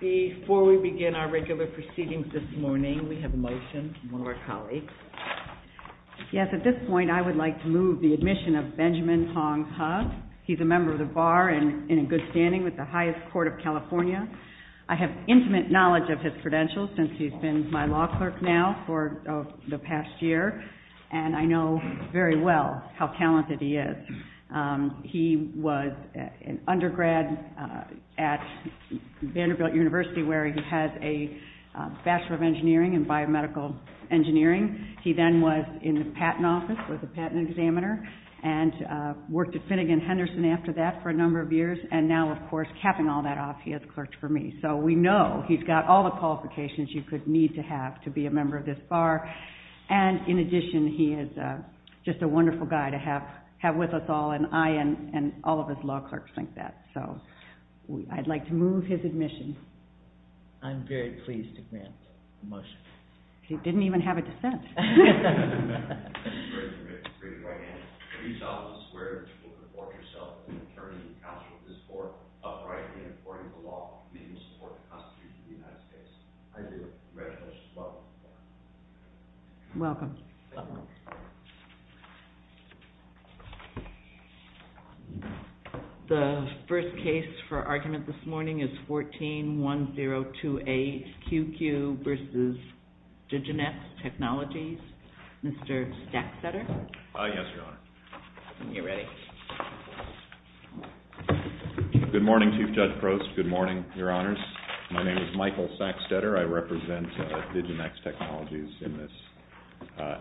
Before we begin our regular proceedings this morning, we have a motion from one of our colleagues. Yes, at this point I would like to move the admission of Benjamin Hong Ha. He's a member of the Bar and in good standing with the highest court of California. I have intimate knowledge of his credentials since he's been my law clerk now for the past year, and I know very well how talented he is. He was an undergrad at Vanderbilt University where he has a Bachelor of Engineering in Biomedical Engineering. He then was in the Patent Office, was a patent examiner, and worked at Finnegan Henderson after that for a number of years. And now, of course, capping all that off, he has clerked for me. So we know he's got all the qualifications you could need to have to be a member of this Bar. And in addition, he is just a wonderful guy to have with us all, and I and all of us law clerks think that. So I'd like to move his admission. I'm very pleased to grant the motion. He didn't even have a dissent. Thank you very much for your great right hand. You saw this where you will report yourself as an attorney and counsel to this court, uprightly and according to the law, meeting the support of the Constitution of the United States. I do. Congratulations. Welcome. Welcome. The first case for argument this morning is 14-1028, QQ versus Diginex Technologies. Mr. Sackstetter? Yes, Your Honor. You're ready. Good morning, Chief Judge Prost. Good morning, Your Honors. My name is Michael Sackstetter. I represent Diginex Technologies in this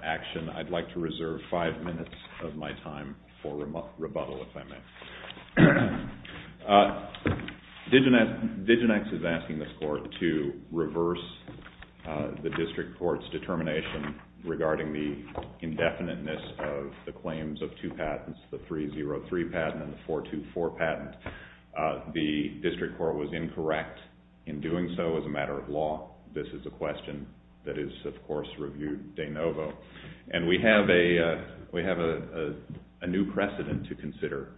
action. I'd like to reserve five minutes of my time for rebuttal, if I may. Diginex is asking this court to reverse the district court's determination regarding the indefiniteness of the claims of two patents, the 303 patent and the 424 patent. The district court was incorrect in doing so as a matter of law. This is a question that is, of course, reviewed de novo. And we have a new precedent to consider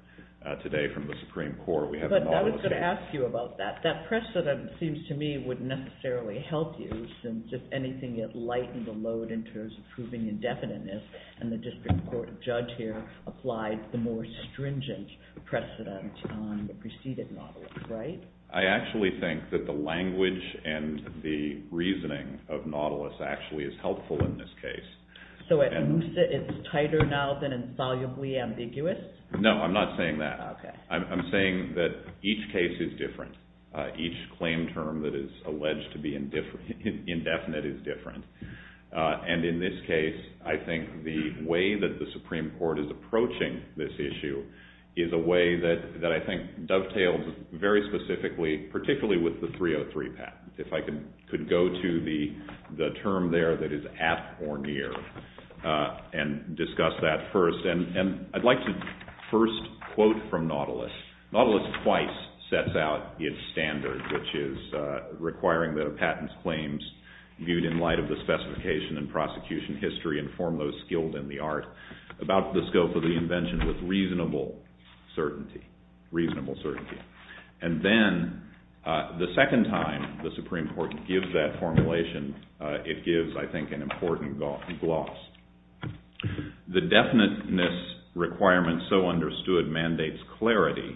today from the Supreme Court. But I was going to ask you about that. That precedent seems to me would necessarily help you, since if anything it lightened the load in terms of proving indefiniteness, and the district court judge here applied the more stringent precedent on the preceded Nautilus, right? I actually think that the language and the reasoning of Nautilus actually is helpful in this case. So it's tighter now than insolubly ambiguous? No, I'm not saying that. I'm saying that each case is different. Each claim term that is alleged to be indefinite is different. And in this case, I think the way that the Supreme Court is approaching this issue is a way that I think dovetails very specifically, particularly with the 303 patent. If I could go to the term there that is at or near and discuss that first. And I'd like to first quote from Nautilus. Nautilus twice sets out its standards, which is requiring that a patent's claims viewed in light of the specification and prosecution history inform those skilled in the art about the scope of the invention with reasonable certainty. Reasonable certainty. And then the second time the Supreme Court gives that formulation, it gives, I think, an important gloss. The definiteness requirement so understood mandates clarity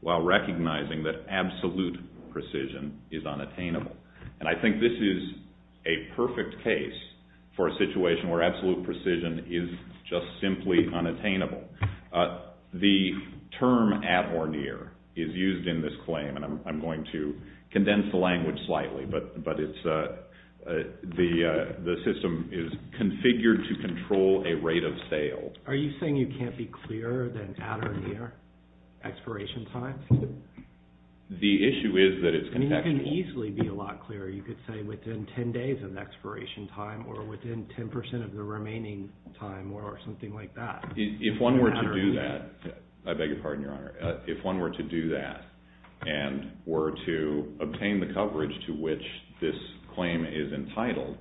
while recognizing that absolute precision is unattainable. And I think this is a perfect case for a situation where absolute precision is just simply unattainable. The term at or near is used in this claim, and I'm going to condense the language slightly, but the system is configured to control a rate of sale. Are you saying you can't be clearer than at or near expiration time? The issue is that it's contextual. I mean, you can easily be a lot clearer. You could say within 10 days of expiration time or within 10% of the remaining time or something like that. If one were to do that, I beg your pardon, Your Honor. If one were to do that and were to obtain the coverage to which this claim is entitled,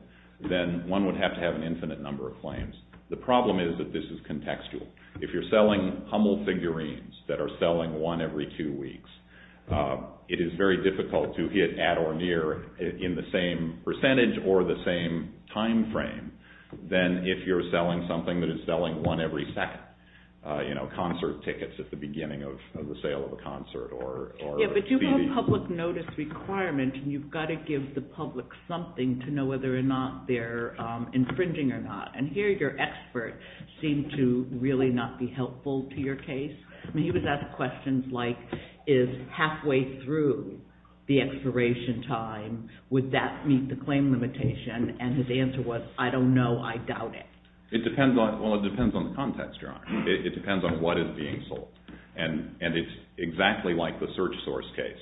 then one would have to have an infinite number of claims. The problem is that this is contextual. If you're selling Hummel figurines that are selling one every two weeks, it is very difficult to hit at or near in the same percentage or the same time frame than if you're selling something that is selling one every second, you know, concert tickets at the beginning of the sale of a concert or a TV. Yeah, but you have a public notice requirement, and you've got to give the public something to know whether or not they're infringing or not. Did your expert seem to really not be helpful to your case? I mean, he was asking questions like, is halfway through the expiration time, would that meet the claim limitation? And his answer was, I don't know. I doubt it. It depends on the context, Your Honor. It depends on what is being sold. And it's exactly like the search source case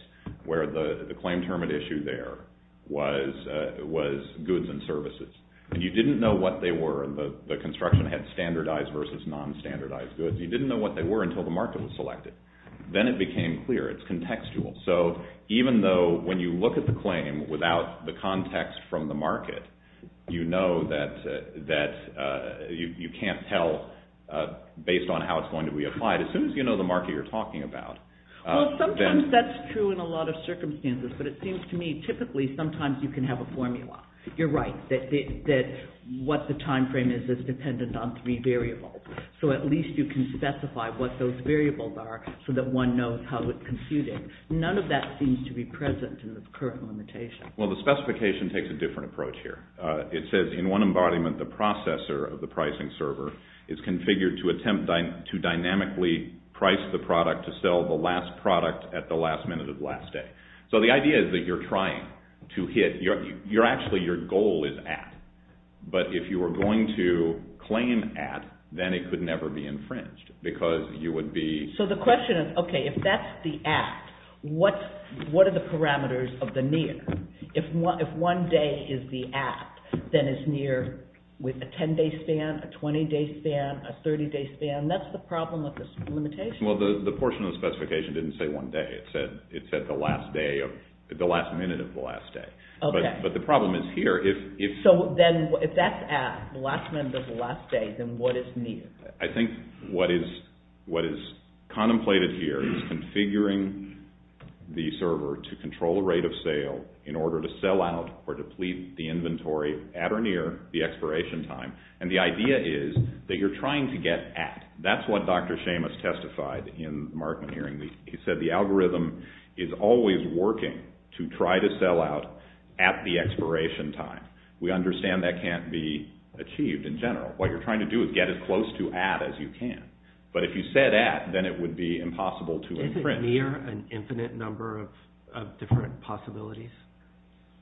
where the claim term at issue there was goods and services. And you didn't know what they were. The construction had standardized versus non-standardized goods. You didn't know what they were until the market was selected. Then it became clear. It's contextual. So even though when you look at the claim without the context from the market, you know that you can't tell based on how it's going to be applied. As soon as you know the market you're talking about, Well, sometimes that's true in a lot of circumstances, but it seems to me typically sometimes you can have a formula. You're right, that what the time frame is is dependent on three variables. So at least you can specify what those variables are so that one knows how it's computed. None of that seems to be present in the current limitation. Well, the specification takes a different approach here. It says, in one embodiment, the processor of the pricing server is configured to attempt to dynamically price the product to sell the last product at the last minute of the last day. So the idea is that you're trying to hit, you're actually, your goal is at. But if you were going to claim at, then it could never be infringed because you would be, So the question is, okay, if that's the at, what are the parameters of the near? If one day is the at, then it's near with a 10-day span, a 20-day span, a 30-day span. That's the problem with this limitation. Well, the portion of the specification didn't say one day. It said the last day of, the last minute of the last day. But the problem is here. So then if that's at, the last minute of the last day, then what is near? I think what is contemplated here is configuring the server to control the rate of sale in order to sell out or deplete the inventory at or near the expiration time. And the idea is that you're trying to get at. That's what Dr. Seamus testified in the Markman hearing. He said the algorithm is always working to try to sell out at the expiration time. We understand that can't be achieved in general. What you're trying to do is get as close to at as you can. But if you said at, then it would be impossible to imprint. Isn't near an infinite number of different possibilities?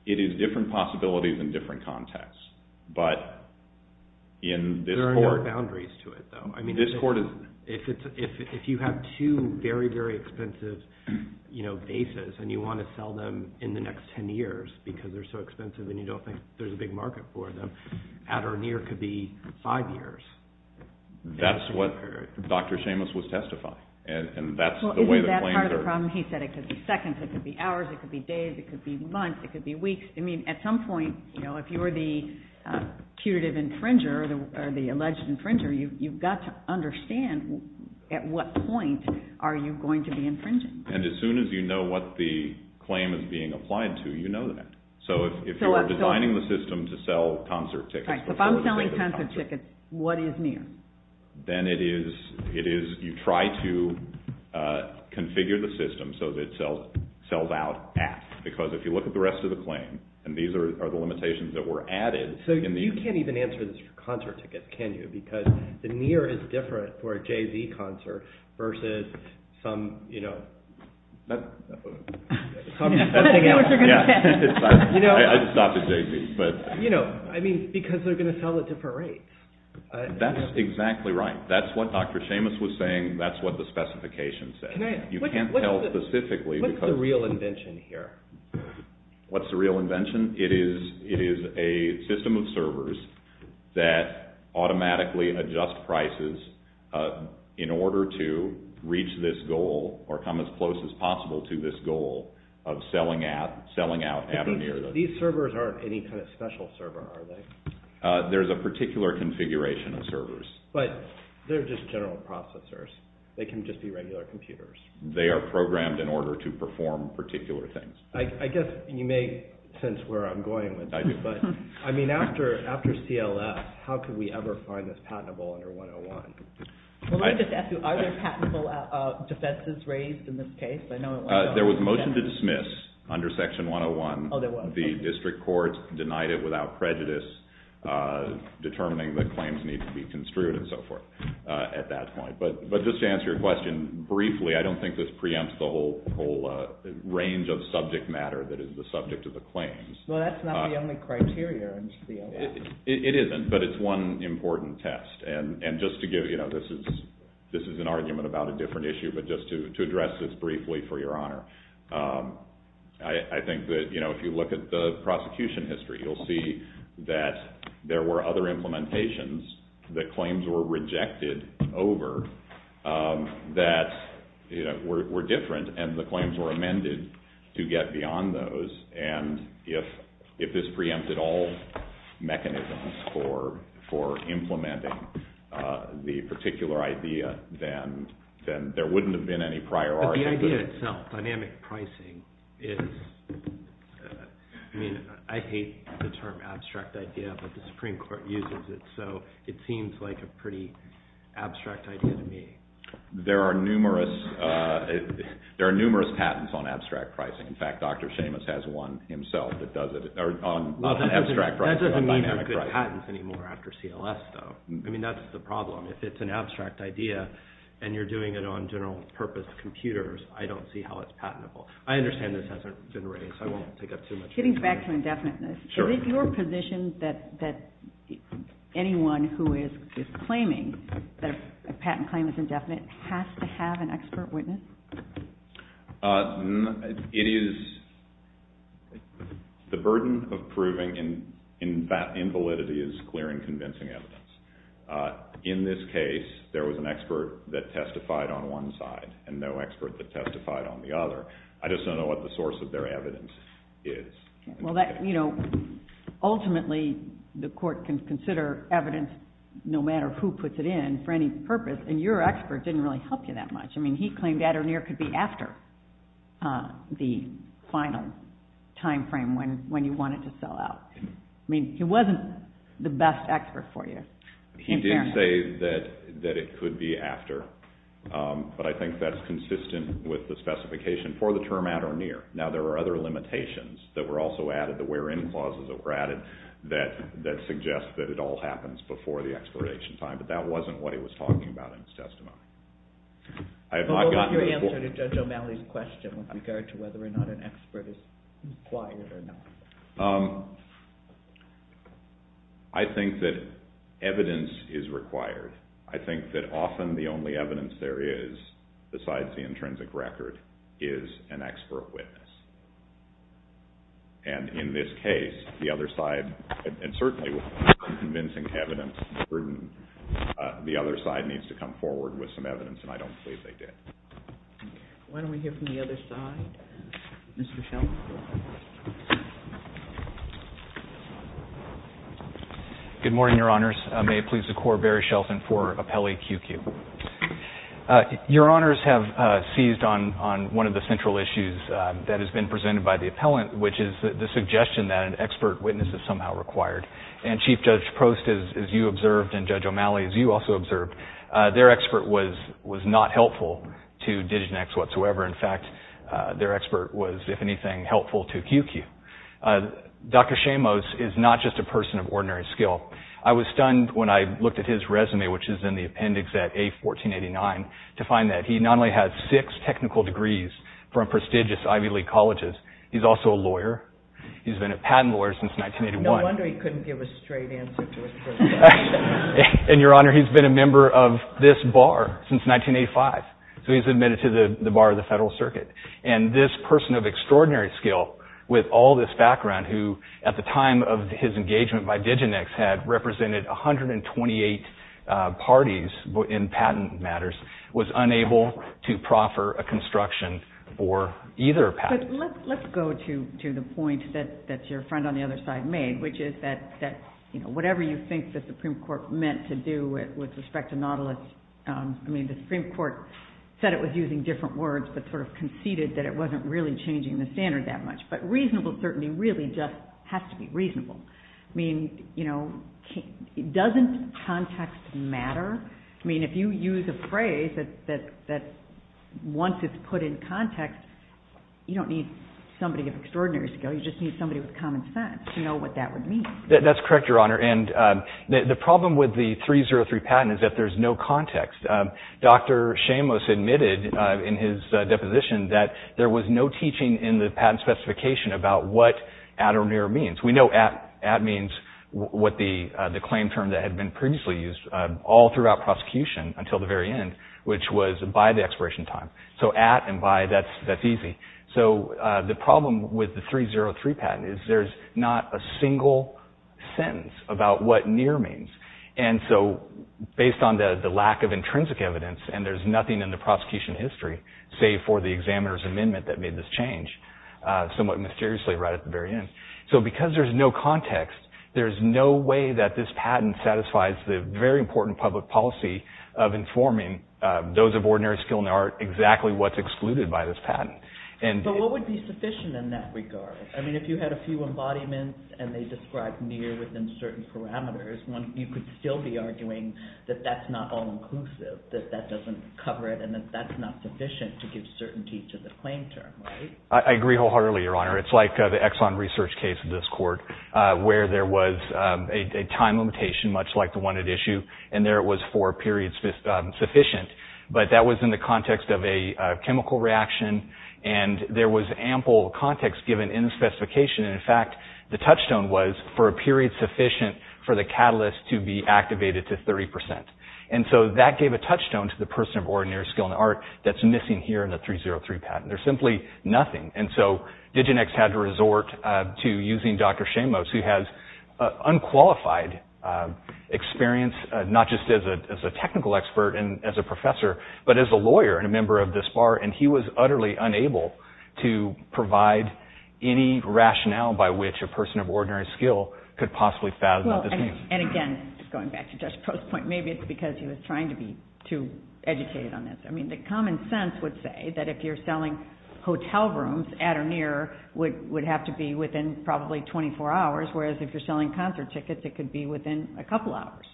It is different possibilities in different contexts. But in this court, There are no boundaries to it, though. This court is, If you have two very, very expensive bases and you want to sell them in the next 10 years because they're so expensive and you don't think there's a big market for them, at or near could be five years. That's what Dr. Seamus was testifying. And that's the way the claims are. Well, isn't that part of the problem? He said it could be seconds, it could be hours, it could be days, it could be months, it could be weeks. I mean, at some point, you know, if you were the putative infringer or the alleged infringer, you've got to understand at what point are you going to be infringing? If the claim is being applied to, you know that. So if you're designing the system to sell concert tickets, If I'm selling concert tickets, what is near? Then it is, you try to configure the system so that it sells out at. Because if you look at the rest of the claim, and these are the limitations that were added. So you can't even answer this for concert tickets, can you? Because the near is different for a Jay-Z concert versus some, you know, something else. I just stopped at Jay-Z. You know, I mean, because they're going to sell at different rates. That's exactly right. That's what Dr. Seamus was saying. That's what the specification said. You can't tell specifically. What's the real invention here? What's the real invention? It is a system of servers that automatically adjust prices in order to reach this goal or come as close as possible to this goal of selling out at a near. These servers aren't any kind of special server, are they? There's a particular configuration of servers. But they're just general processors. They can just be regular computers. They are programmed in order to perform particular things. I guess you may sense where I'm going with this. I do. But, I mean, after CLS, how could we ever find this patentable under 101? Well, let me just ask you, are there patentable defenses raised in this case? There was a motion to dismiss under Section 101. Oh, there was. The district courts denied it without prejudice, determining that claims need to be construed and so forth at that point. But just to answer your question, briefly, I don't think this preempts the whole range of subject matter that is the subject of the claims. Well, that's not the only criteria in CLS. It isn't. But it's one important test. And just to give, you know, this is an argument about a different issue, but just to address this briefly, for your honor. I think that, you know, if you look at the prosecution history, you'll see that there were other implementations that claims were rejected over that were different, and the claims were amended to get beyond those. And if this preempted all mechanisms for implementing the particular idea, then there wouldn't have been any priority. But the idea itself, dynamic pricing, is, I mean, I hate the term abstract idea, but the Supreme Court uses it, so it seems like a pretty abstract idea to me. There are numerous, there are numerous patents on abstract pricing. In fact, Dr. Seamus has one himself that does it, on abstract pricing, on dynamic pricing. I don't see patents anymore after CLS, though. I mean, that's the problem. If it's an abstract idea, and you're doing it on general purpose computers, I don't see how it's patentable. I understand this hasn't been raised, so I won't take up too much of your time. Getting back to indefiniteness, is it your position that anyone who is claiming that a patent claim is indefinite has to have an expert witness? It is the burden of proving that invalidity is clear and convincing evidence. In this case, there was an expert that testified on one side, and no expert that testified on the other. I just don't know what the source of their evidence is. Ultimately, the court can consider evidence, no matter who puts it in, for any purpose, and your expert didn't really help you that much. I mean, he claimed at or near could be after the final time frame when you want it to sell out. I mean, he wasn't the best expert for you. He did say that it could be after, but I think that's consistent with the specification for the term at or near. Now, there are other limitations that were also added, the where-in clauses that were added, that suggest that it all happens before the expiration time, but that wasn't what he was talking about in his testimony. What was your answer to Judge O'Malley's question with regard to whether or not an expert is required or not? I think that evidence is required. I think that often the only evidence there is, besides the intrinsic record, is an expert witness. And in this case, the other side, and certainly without convincing evidence, the other side needs to come forward with some evidence, and I don't believe they did. Why don't we hear from the other side? Mr. Shelton. Good morning, Your Honors. May it please the Court, Barry Shelton for Appellee QQ. Your Honors have seized on one of the central issues that has been presented by the appellant, which is the suggestion that an expert witness is somehow required. And Chief Judge Prost, as you observed, and Judge O'Malley, as you also observed, their expert was not helpful to DIGINEX whatsoever. In fact, their expert was, if anything, helpful to QQ. Dr. Shamos is not just a person of ordinary skill. I was stunned when I looked at his resume, which is in the appendix at A1489, to find that he not only has six technical degrees from prestigious Ivy League colleges, he's also a lawyer. He's been a patent lawyer since 1981. No wonder he couldn't give a straight answer to a question. And, Your Honor, he's been a member of this bar since 1985. So he's admitted to the bar of the Federal Circuit. And this person of extraordinary skill, with all this background, who at the time of his engagement by DIGINEX had represented 128 parties in patent matters, was unable to proffer a construction for either patent. But let's go to the point that your friend on the other side made, which is that whatever you think the Supreme Court meant to do with respect to Nautilus, I mean, the Supreme Court said it was using different words, but sort of conceded that it wasn't really changing the standard that much. But reasonable certainty really just has to be reasonable. I mean, you know, doesn't context matter? I mean, if you use a phrase that once it's put in context, you don't need somebody of extraordinary skill. You just need somebody with common sense to know what that would mean. That's correct, Your Honor. And the problem with the 303 patent is that there's no context. Dr. Shamos admitted in his deposition that there was no teaching in the patent specification about what at or near means. We know at means what the claim term that had been previously used all throughout prosecution until the very end, which was by the expiration time. So at and by, that's easy. So the problem with the 303 patent is there's not a single sentence about what near means. And so based on the lack of intrinsic evidence, and there's nothing in the prosecution history, save for the examiner's amendment that made this change somewhat mysteriously right at the very end. So because there's no context, there's no way that this patent satisfies the very important public policy of informing those of ordinary skill and art exactly what's excluded by this patent. But what would be sufficient in that regard? I mean, if you had a few embodiments and they described near within certain parameters, you could still be arguing that that's not all-inclusive, that that doesn't cover it, and that that's not sufficient to give certainty to the claim term, right? I agree wholeheartedly, Your Honor. It's like the Exxon research case in this court where there was a time limitation, much like the one at issue, and there it was for periods sufficient. But that was in the context of a chemical reaction, and there was ample context given in the specification. And in fact, the touchstone was for a period sufficient for the catalyst to be activated to 30%. And so that gave a touchstone to the person of ordinary skill and art that's missing here in the 303 patent. There's simply nothing. And so Diginex had to resort to using Dr. Shamos, who has unqualified experience, not just as a technical expert and as a professor, but as a lawyer and a member of this bar, and he was utterly unable to provide any rationale by which a person of ordinary skill could possibly fathom what this means. And again, going back to Judge Post's point, maybe it's because he was trying to be too educated on this. I mean, the common sense would say that if you're selling hotel rooms at or near, would have to be within probably 24 hours, whereas if you're selling concert tickets, it could be within a couple hours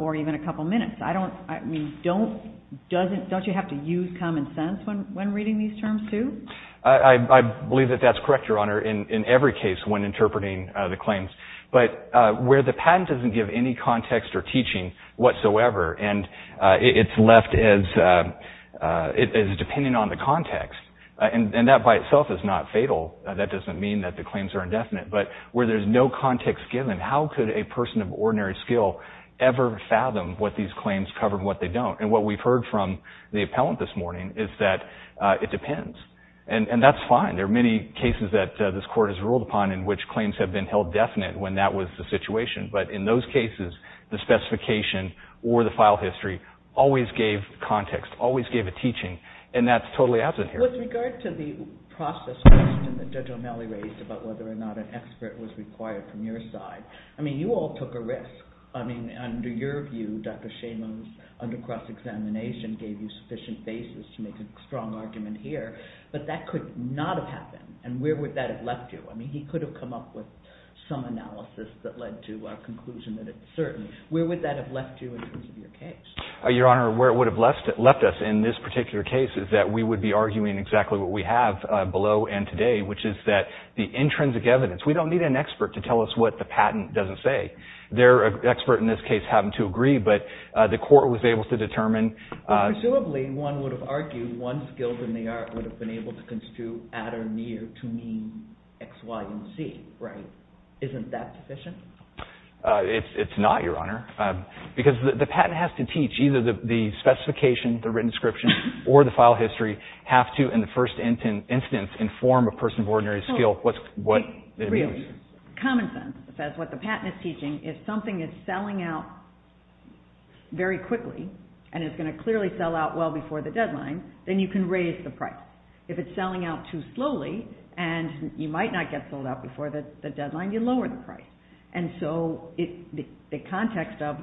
or even a couple minutes. I don't, I mean, don't, doesn't, don't you have to use common sense when reading these terms, too? I believe that that's correct, Your Honor. In every case when interpreting the claims, but where the patent doesn't give any context or teaching whatsoever, and it's left as depending on the context, and that by itself is not fatal. That doesn't mean that the claims are indefinite, but where there's no context given, how could a person of ordinary skill ever fathom what these claims cover and what they don't? And what we've heard from the appellant this morning is that it depends, and that's fine. There are many cases that this Court has ruled upon in which claims have been held definite when that was the situation, but in those cases, the specification or the file history always gave context, always gave a teaching, and that's totally absent here. With regard to the process question that Judge O'Malley raised about whether or not an expert was required from your side, I mean, you all took a risk. I mean, under your view, Dr. Shaman's under-cross-examination gave you sufficient basis to make a strong argument here, but it didn't happen, and where would that have left you? I mean, he could have come up with some analysis that led to a conclusion that it's certain. Where would that have left you in terms of your case? Your Honor, where it would have left us in this particular case is that we would be arguing exactly what we have below and today, which is that the intrinsic evidence, we don't need an expert to tell us what the patent doesn't say. The expert in this case happened to agree, but the Court was able to determine... to mean X, Y, and Z, right? Isn't that sufficient? It's not, Your Honor, because the patent has to teach either the specification, the written description, or the file history have to, in the first instance, inform a person of ordinary skill what it means. Common sense says what the patent is teaching is something is selling out very quickly and is going to clearly sell out well before the deadline, then you can raise the price. If it's selling out too slowly and you might not get sold out before the deadline, you lower the price. And so the context of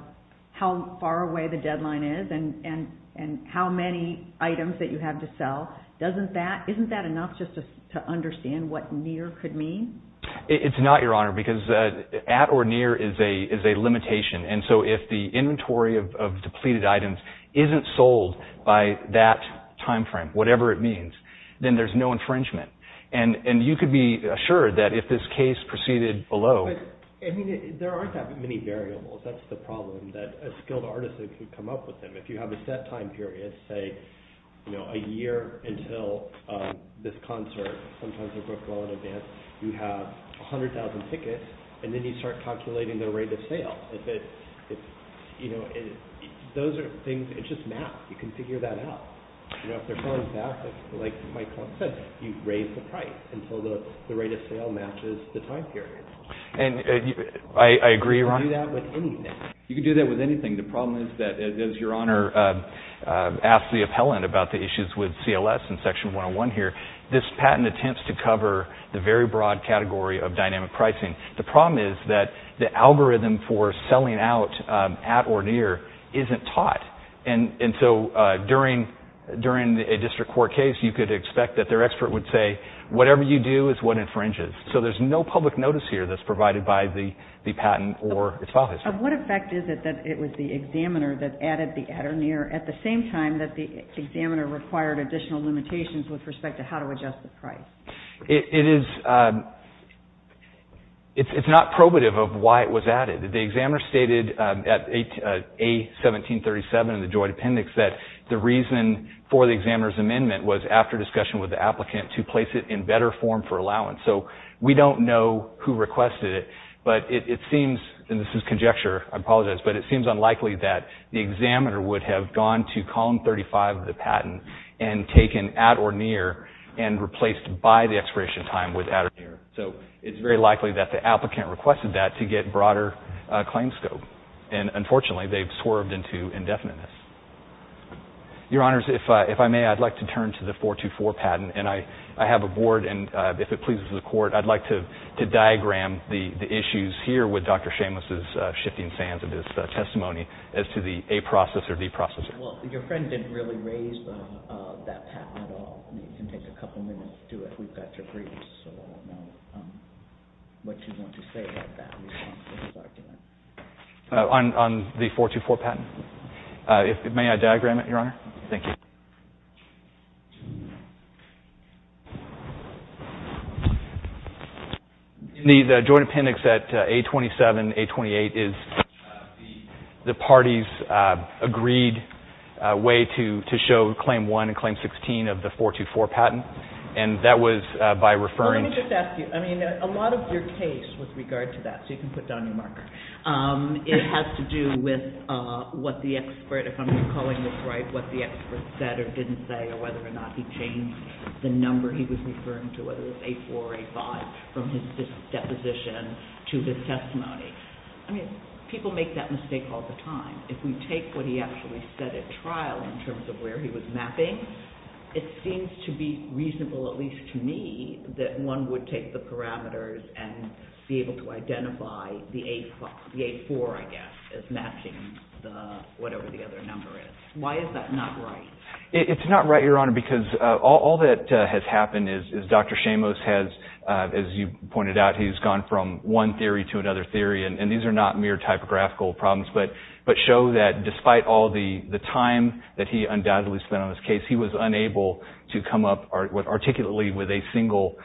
how far away the deadline is and how many items that you have to sell, isn't that enough just to understand what near could mean? It's not, Your Honor, because at or near is a limitation, and so if the inventory of depleted items isn't sold by that time frame, whatever it means, then there's no infringement. And you could be assured that if this case proceeded below... I mean, there aren't that many variables. That's the problem that a skilled artist can come up with them. If you have a set time period, say, you know, a year until this concert, sometimes they're booked well in advance, you have 100,000 tickets, and then you start calculating the rate of sale. If it's, you know, those are things, it's just math. You can figure that out. You know, if they're coming back, like my client says, you raise the price until the rate of sale matches the time period. And I agree, Your Honor. You can do that with anything. You can do that with anything. The problem is that, as Your Honor asked the appellant about the issues with CLS and Section 101 here, this patent attempts to cover the very broad category of dynamic pricing. The problem is that the algorithm for selling out at or near isn't taught. And so during a district court case, you could expect that their expert would say, whatever you do is what infringes. So there's no public notice here that's provided by the patent or its file history. And what effect is it that it was the examiner that added the at or near at the same time that the examiner required additional limitations with respect to how to adjust the price? It is, it's not probative of why it was added. The examiner stated at A1737 in the joint appendix that the reason for the examiner's amendment was after discussion with the applicant to place it in better form for allowance. So we don't know who requested it, but it seems, and this is conjecture, I apologize, but it seems unlikely that the examiner would have gone to column 35 of the patent and taken at or near and replaced by the expiration time with at or near. So it's very likely that the applicant requested that to get broader claim scope. And unfortunately, they've swerved into indefiniteness. Your Honors, if I may, I'd like to turn to the 424 patent and I have a board and if it pleases the court, I'd like to diagram the issues here with Dr. Seamless's shifting sands of his testimony as to the A process or D process. Well, your friend didn't really raise that patent at all. You can take a couple minutes to do it. We've got your briefs so we'll know what you want to say about that. On the 424 patent? May I diagram it, your Honor? Thank you. The joint appendix at A27, A28 is the party's agreed way to show Claim 1 and Claim 16 of the 424 patent and that was by referring to Let me just ask you, I mean, a lot of your case with regard to that, so you can put down your marker, it has to do with what the expert, if I'm recalling this right, what the expert said or didn't say or whether or not he changed the number he was referring to, whether it was A4 or A5 from his deposition to his testimony. I mean, people make that mistake all the time. If we take what he actually said at trial in terms of where he was mapping, it seems to be reasonable, at least to me, that one would take the parameters and be able to identify the A4, I guess, as matching whatever the other number is. Why is that not right? It's not right, Your Honor, because all that has happened is Dr. Shamos has, as you pointed out, he's gone from one theory to another theory and these are not mere typographical problems but show that despite all the time that he undoubtedly spent on this case, he was unable to come up articulately with a single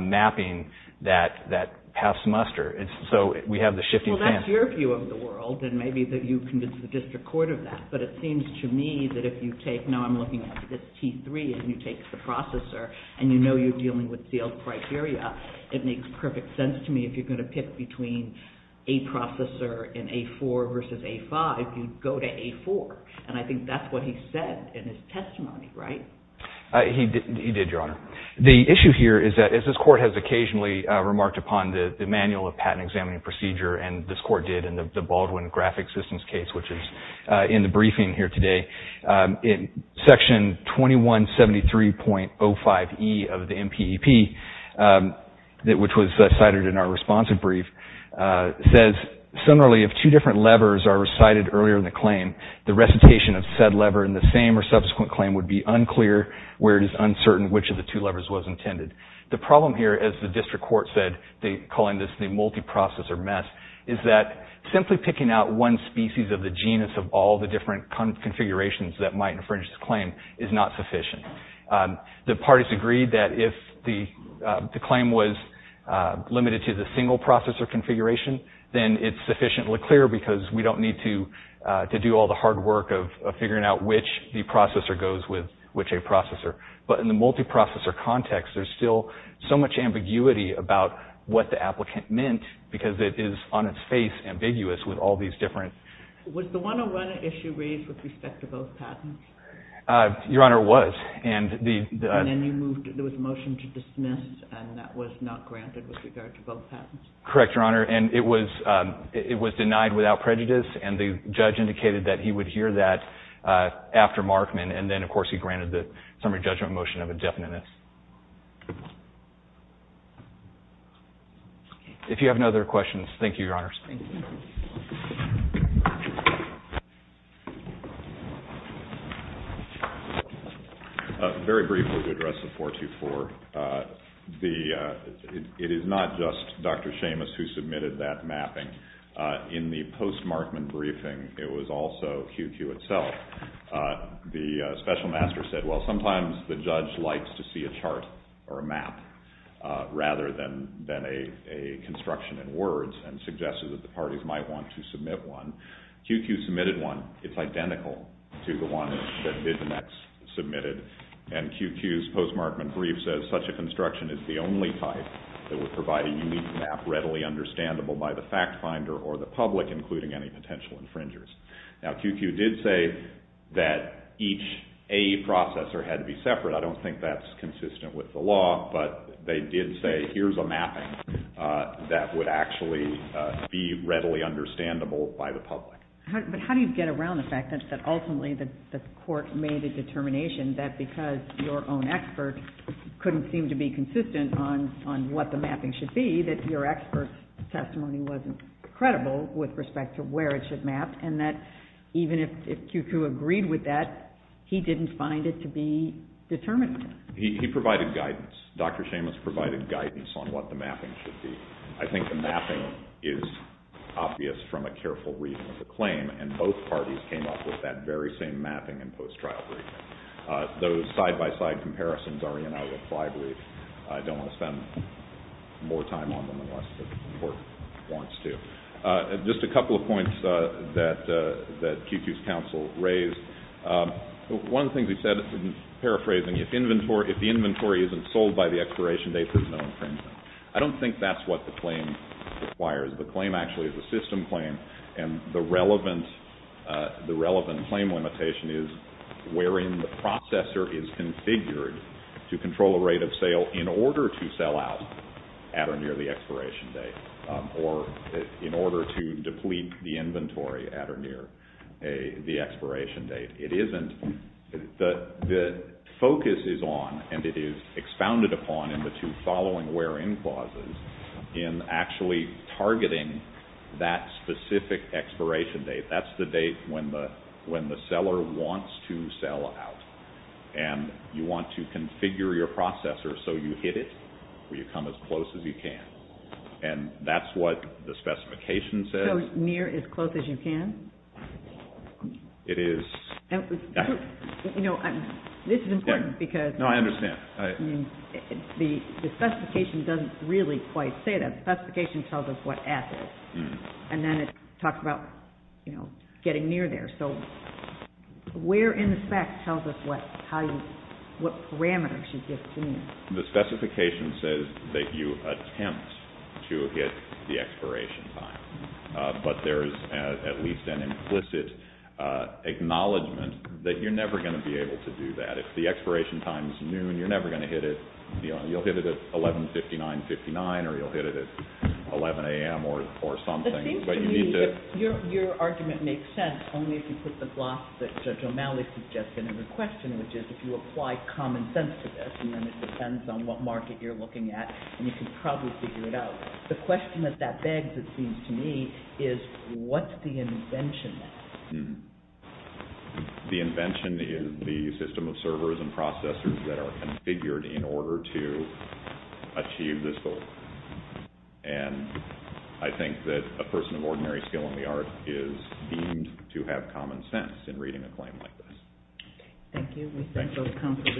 mapping that past semester. So we have the shifting... Well, that's your view of the world and maybe that you convinced the District Court of that but it seems to me that if you take, now I'm looking at this T3 and you take the processor and you know you're dealing with sealed criteria, it makes perfect sense to me if you're going to pick between A processor and A4 versus A5, you go to A4 and I think that's what he said in his testimony, right? He did, Your Honor. The issue here is that as this court has occasionally remarked upon the manual of patent examining procedure and this court did in the Baldwin graphic systems case which is in the briefing here today, in section 2173.05E of the MPEP which was cited in our responsive brief, says, similarly, if two different levers are recited earlier in the claim, the recitation of said lever in the same or subsequent claim would be unclear where it is uncertain which of the two levers was intended. The problem here as the district court said, calling this the multiprocessor mess, is that simply picking out one species of the genus of all the different configurations that might infringe this claim is not sufficient. The parties agreed that if the claim was limited to the single processor configuration, then it's sufficiently clear because we don't need to do all the hard work of figuring out which the processor goes with which A processor. But in the multiprocessor context, there's still so much ambiguity about what the applicant meant because it is on its face ambiguous with all these different. Was the 101 issue raised with respect to both patents? Your Honor, it was. And then there was a motion to dismiss and that was not granted with regard to both patents? Correct, Your Honor, and it was denied without prejudice and the judge indicated that he would hear that after Markman and then, of course, he granted the summary judgment motion of indefiniteness. If you have no other questions, thank you, Your Honor. Thank you. Very briefly, to address the 424, it is not Seamus who submitted that mapping. In the post-Markman briefing, it was also QQ itself. The specific questions were about QQ. And special master said, well, sometimes the judge likes to see a chart or a map rather than a construction in words and suggested that the parties might want to submit one. QQ submitted one. It's identical to the one that Vision X submitted. And QQ's post-Markman brief says that such a construction is the only type that would provide a unique map readily understandable by the fact finder or the public, including any potential infringers. Now, QQ did say that each A processor had to be separate. I don't think that's consistent with the law, but they did say here's a mapping that would actually be readily understandable by the public. But how do you get around the fact that ultimately the court made a determination that because your own expert couldn't seem to be consistent on what the mapping should be, that your expert's not sure where it should map and that even if QQ agreed with that, he didn't find it to be determined. He provided guidance. Dr. Seamus provided guidance on what the mapping should be. I think the mapping is obvious from a careful reading of the claim and both points that QQ's counsel raised. One thing he said in paraphrasing, if the inventory isn't sold by the expiration date, there's no infringement. I don't think that's what the claim requires. The claim actually is a system claim and the relevant claim limitation is wherein the processor is configured to control a rate of sale in the or near the expiration date or in order to deplete the inventory at or near the expiration date. It isn't. The focus is on and it is expounded upon in the two following wherein clauses in actually targeting that specific expiration date. That's the date when the seller wants to sell out. And you want to configure your processor so that when you hit it, you come as close as you can. And that's what the specification says. So near as close as you can? It is. This is important because the specification doesn't really quite say that. The specification tells us what at is and then it talks about getting near there. So where in effect tells us what parameters you give to me? The specification says that you attempt to hit the expiration time. But there is at least an implicit acknowledgment that you're never going to be able to do that. If the expiration time is noon, you're never going to hit it. You'll hit it at 1159.59 or you'll hit it at 11am or something. Your argument makes sense only if you put the gloss that Judge O'Malley suggested in the question which is if you apply common sense to this and then it depends on what market you're looking at and you can probably figure it out. The question that that begs me is what's the invention? The invention is the system of servers and processors that are configured in order to achieve this goal. And I think that a person of ordinary skill in the art is deemed to have common sense in reading a claim like this. Thank you. We thank both counsel for the cases submitted.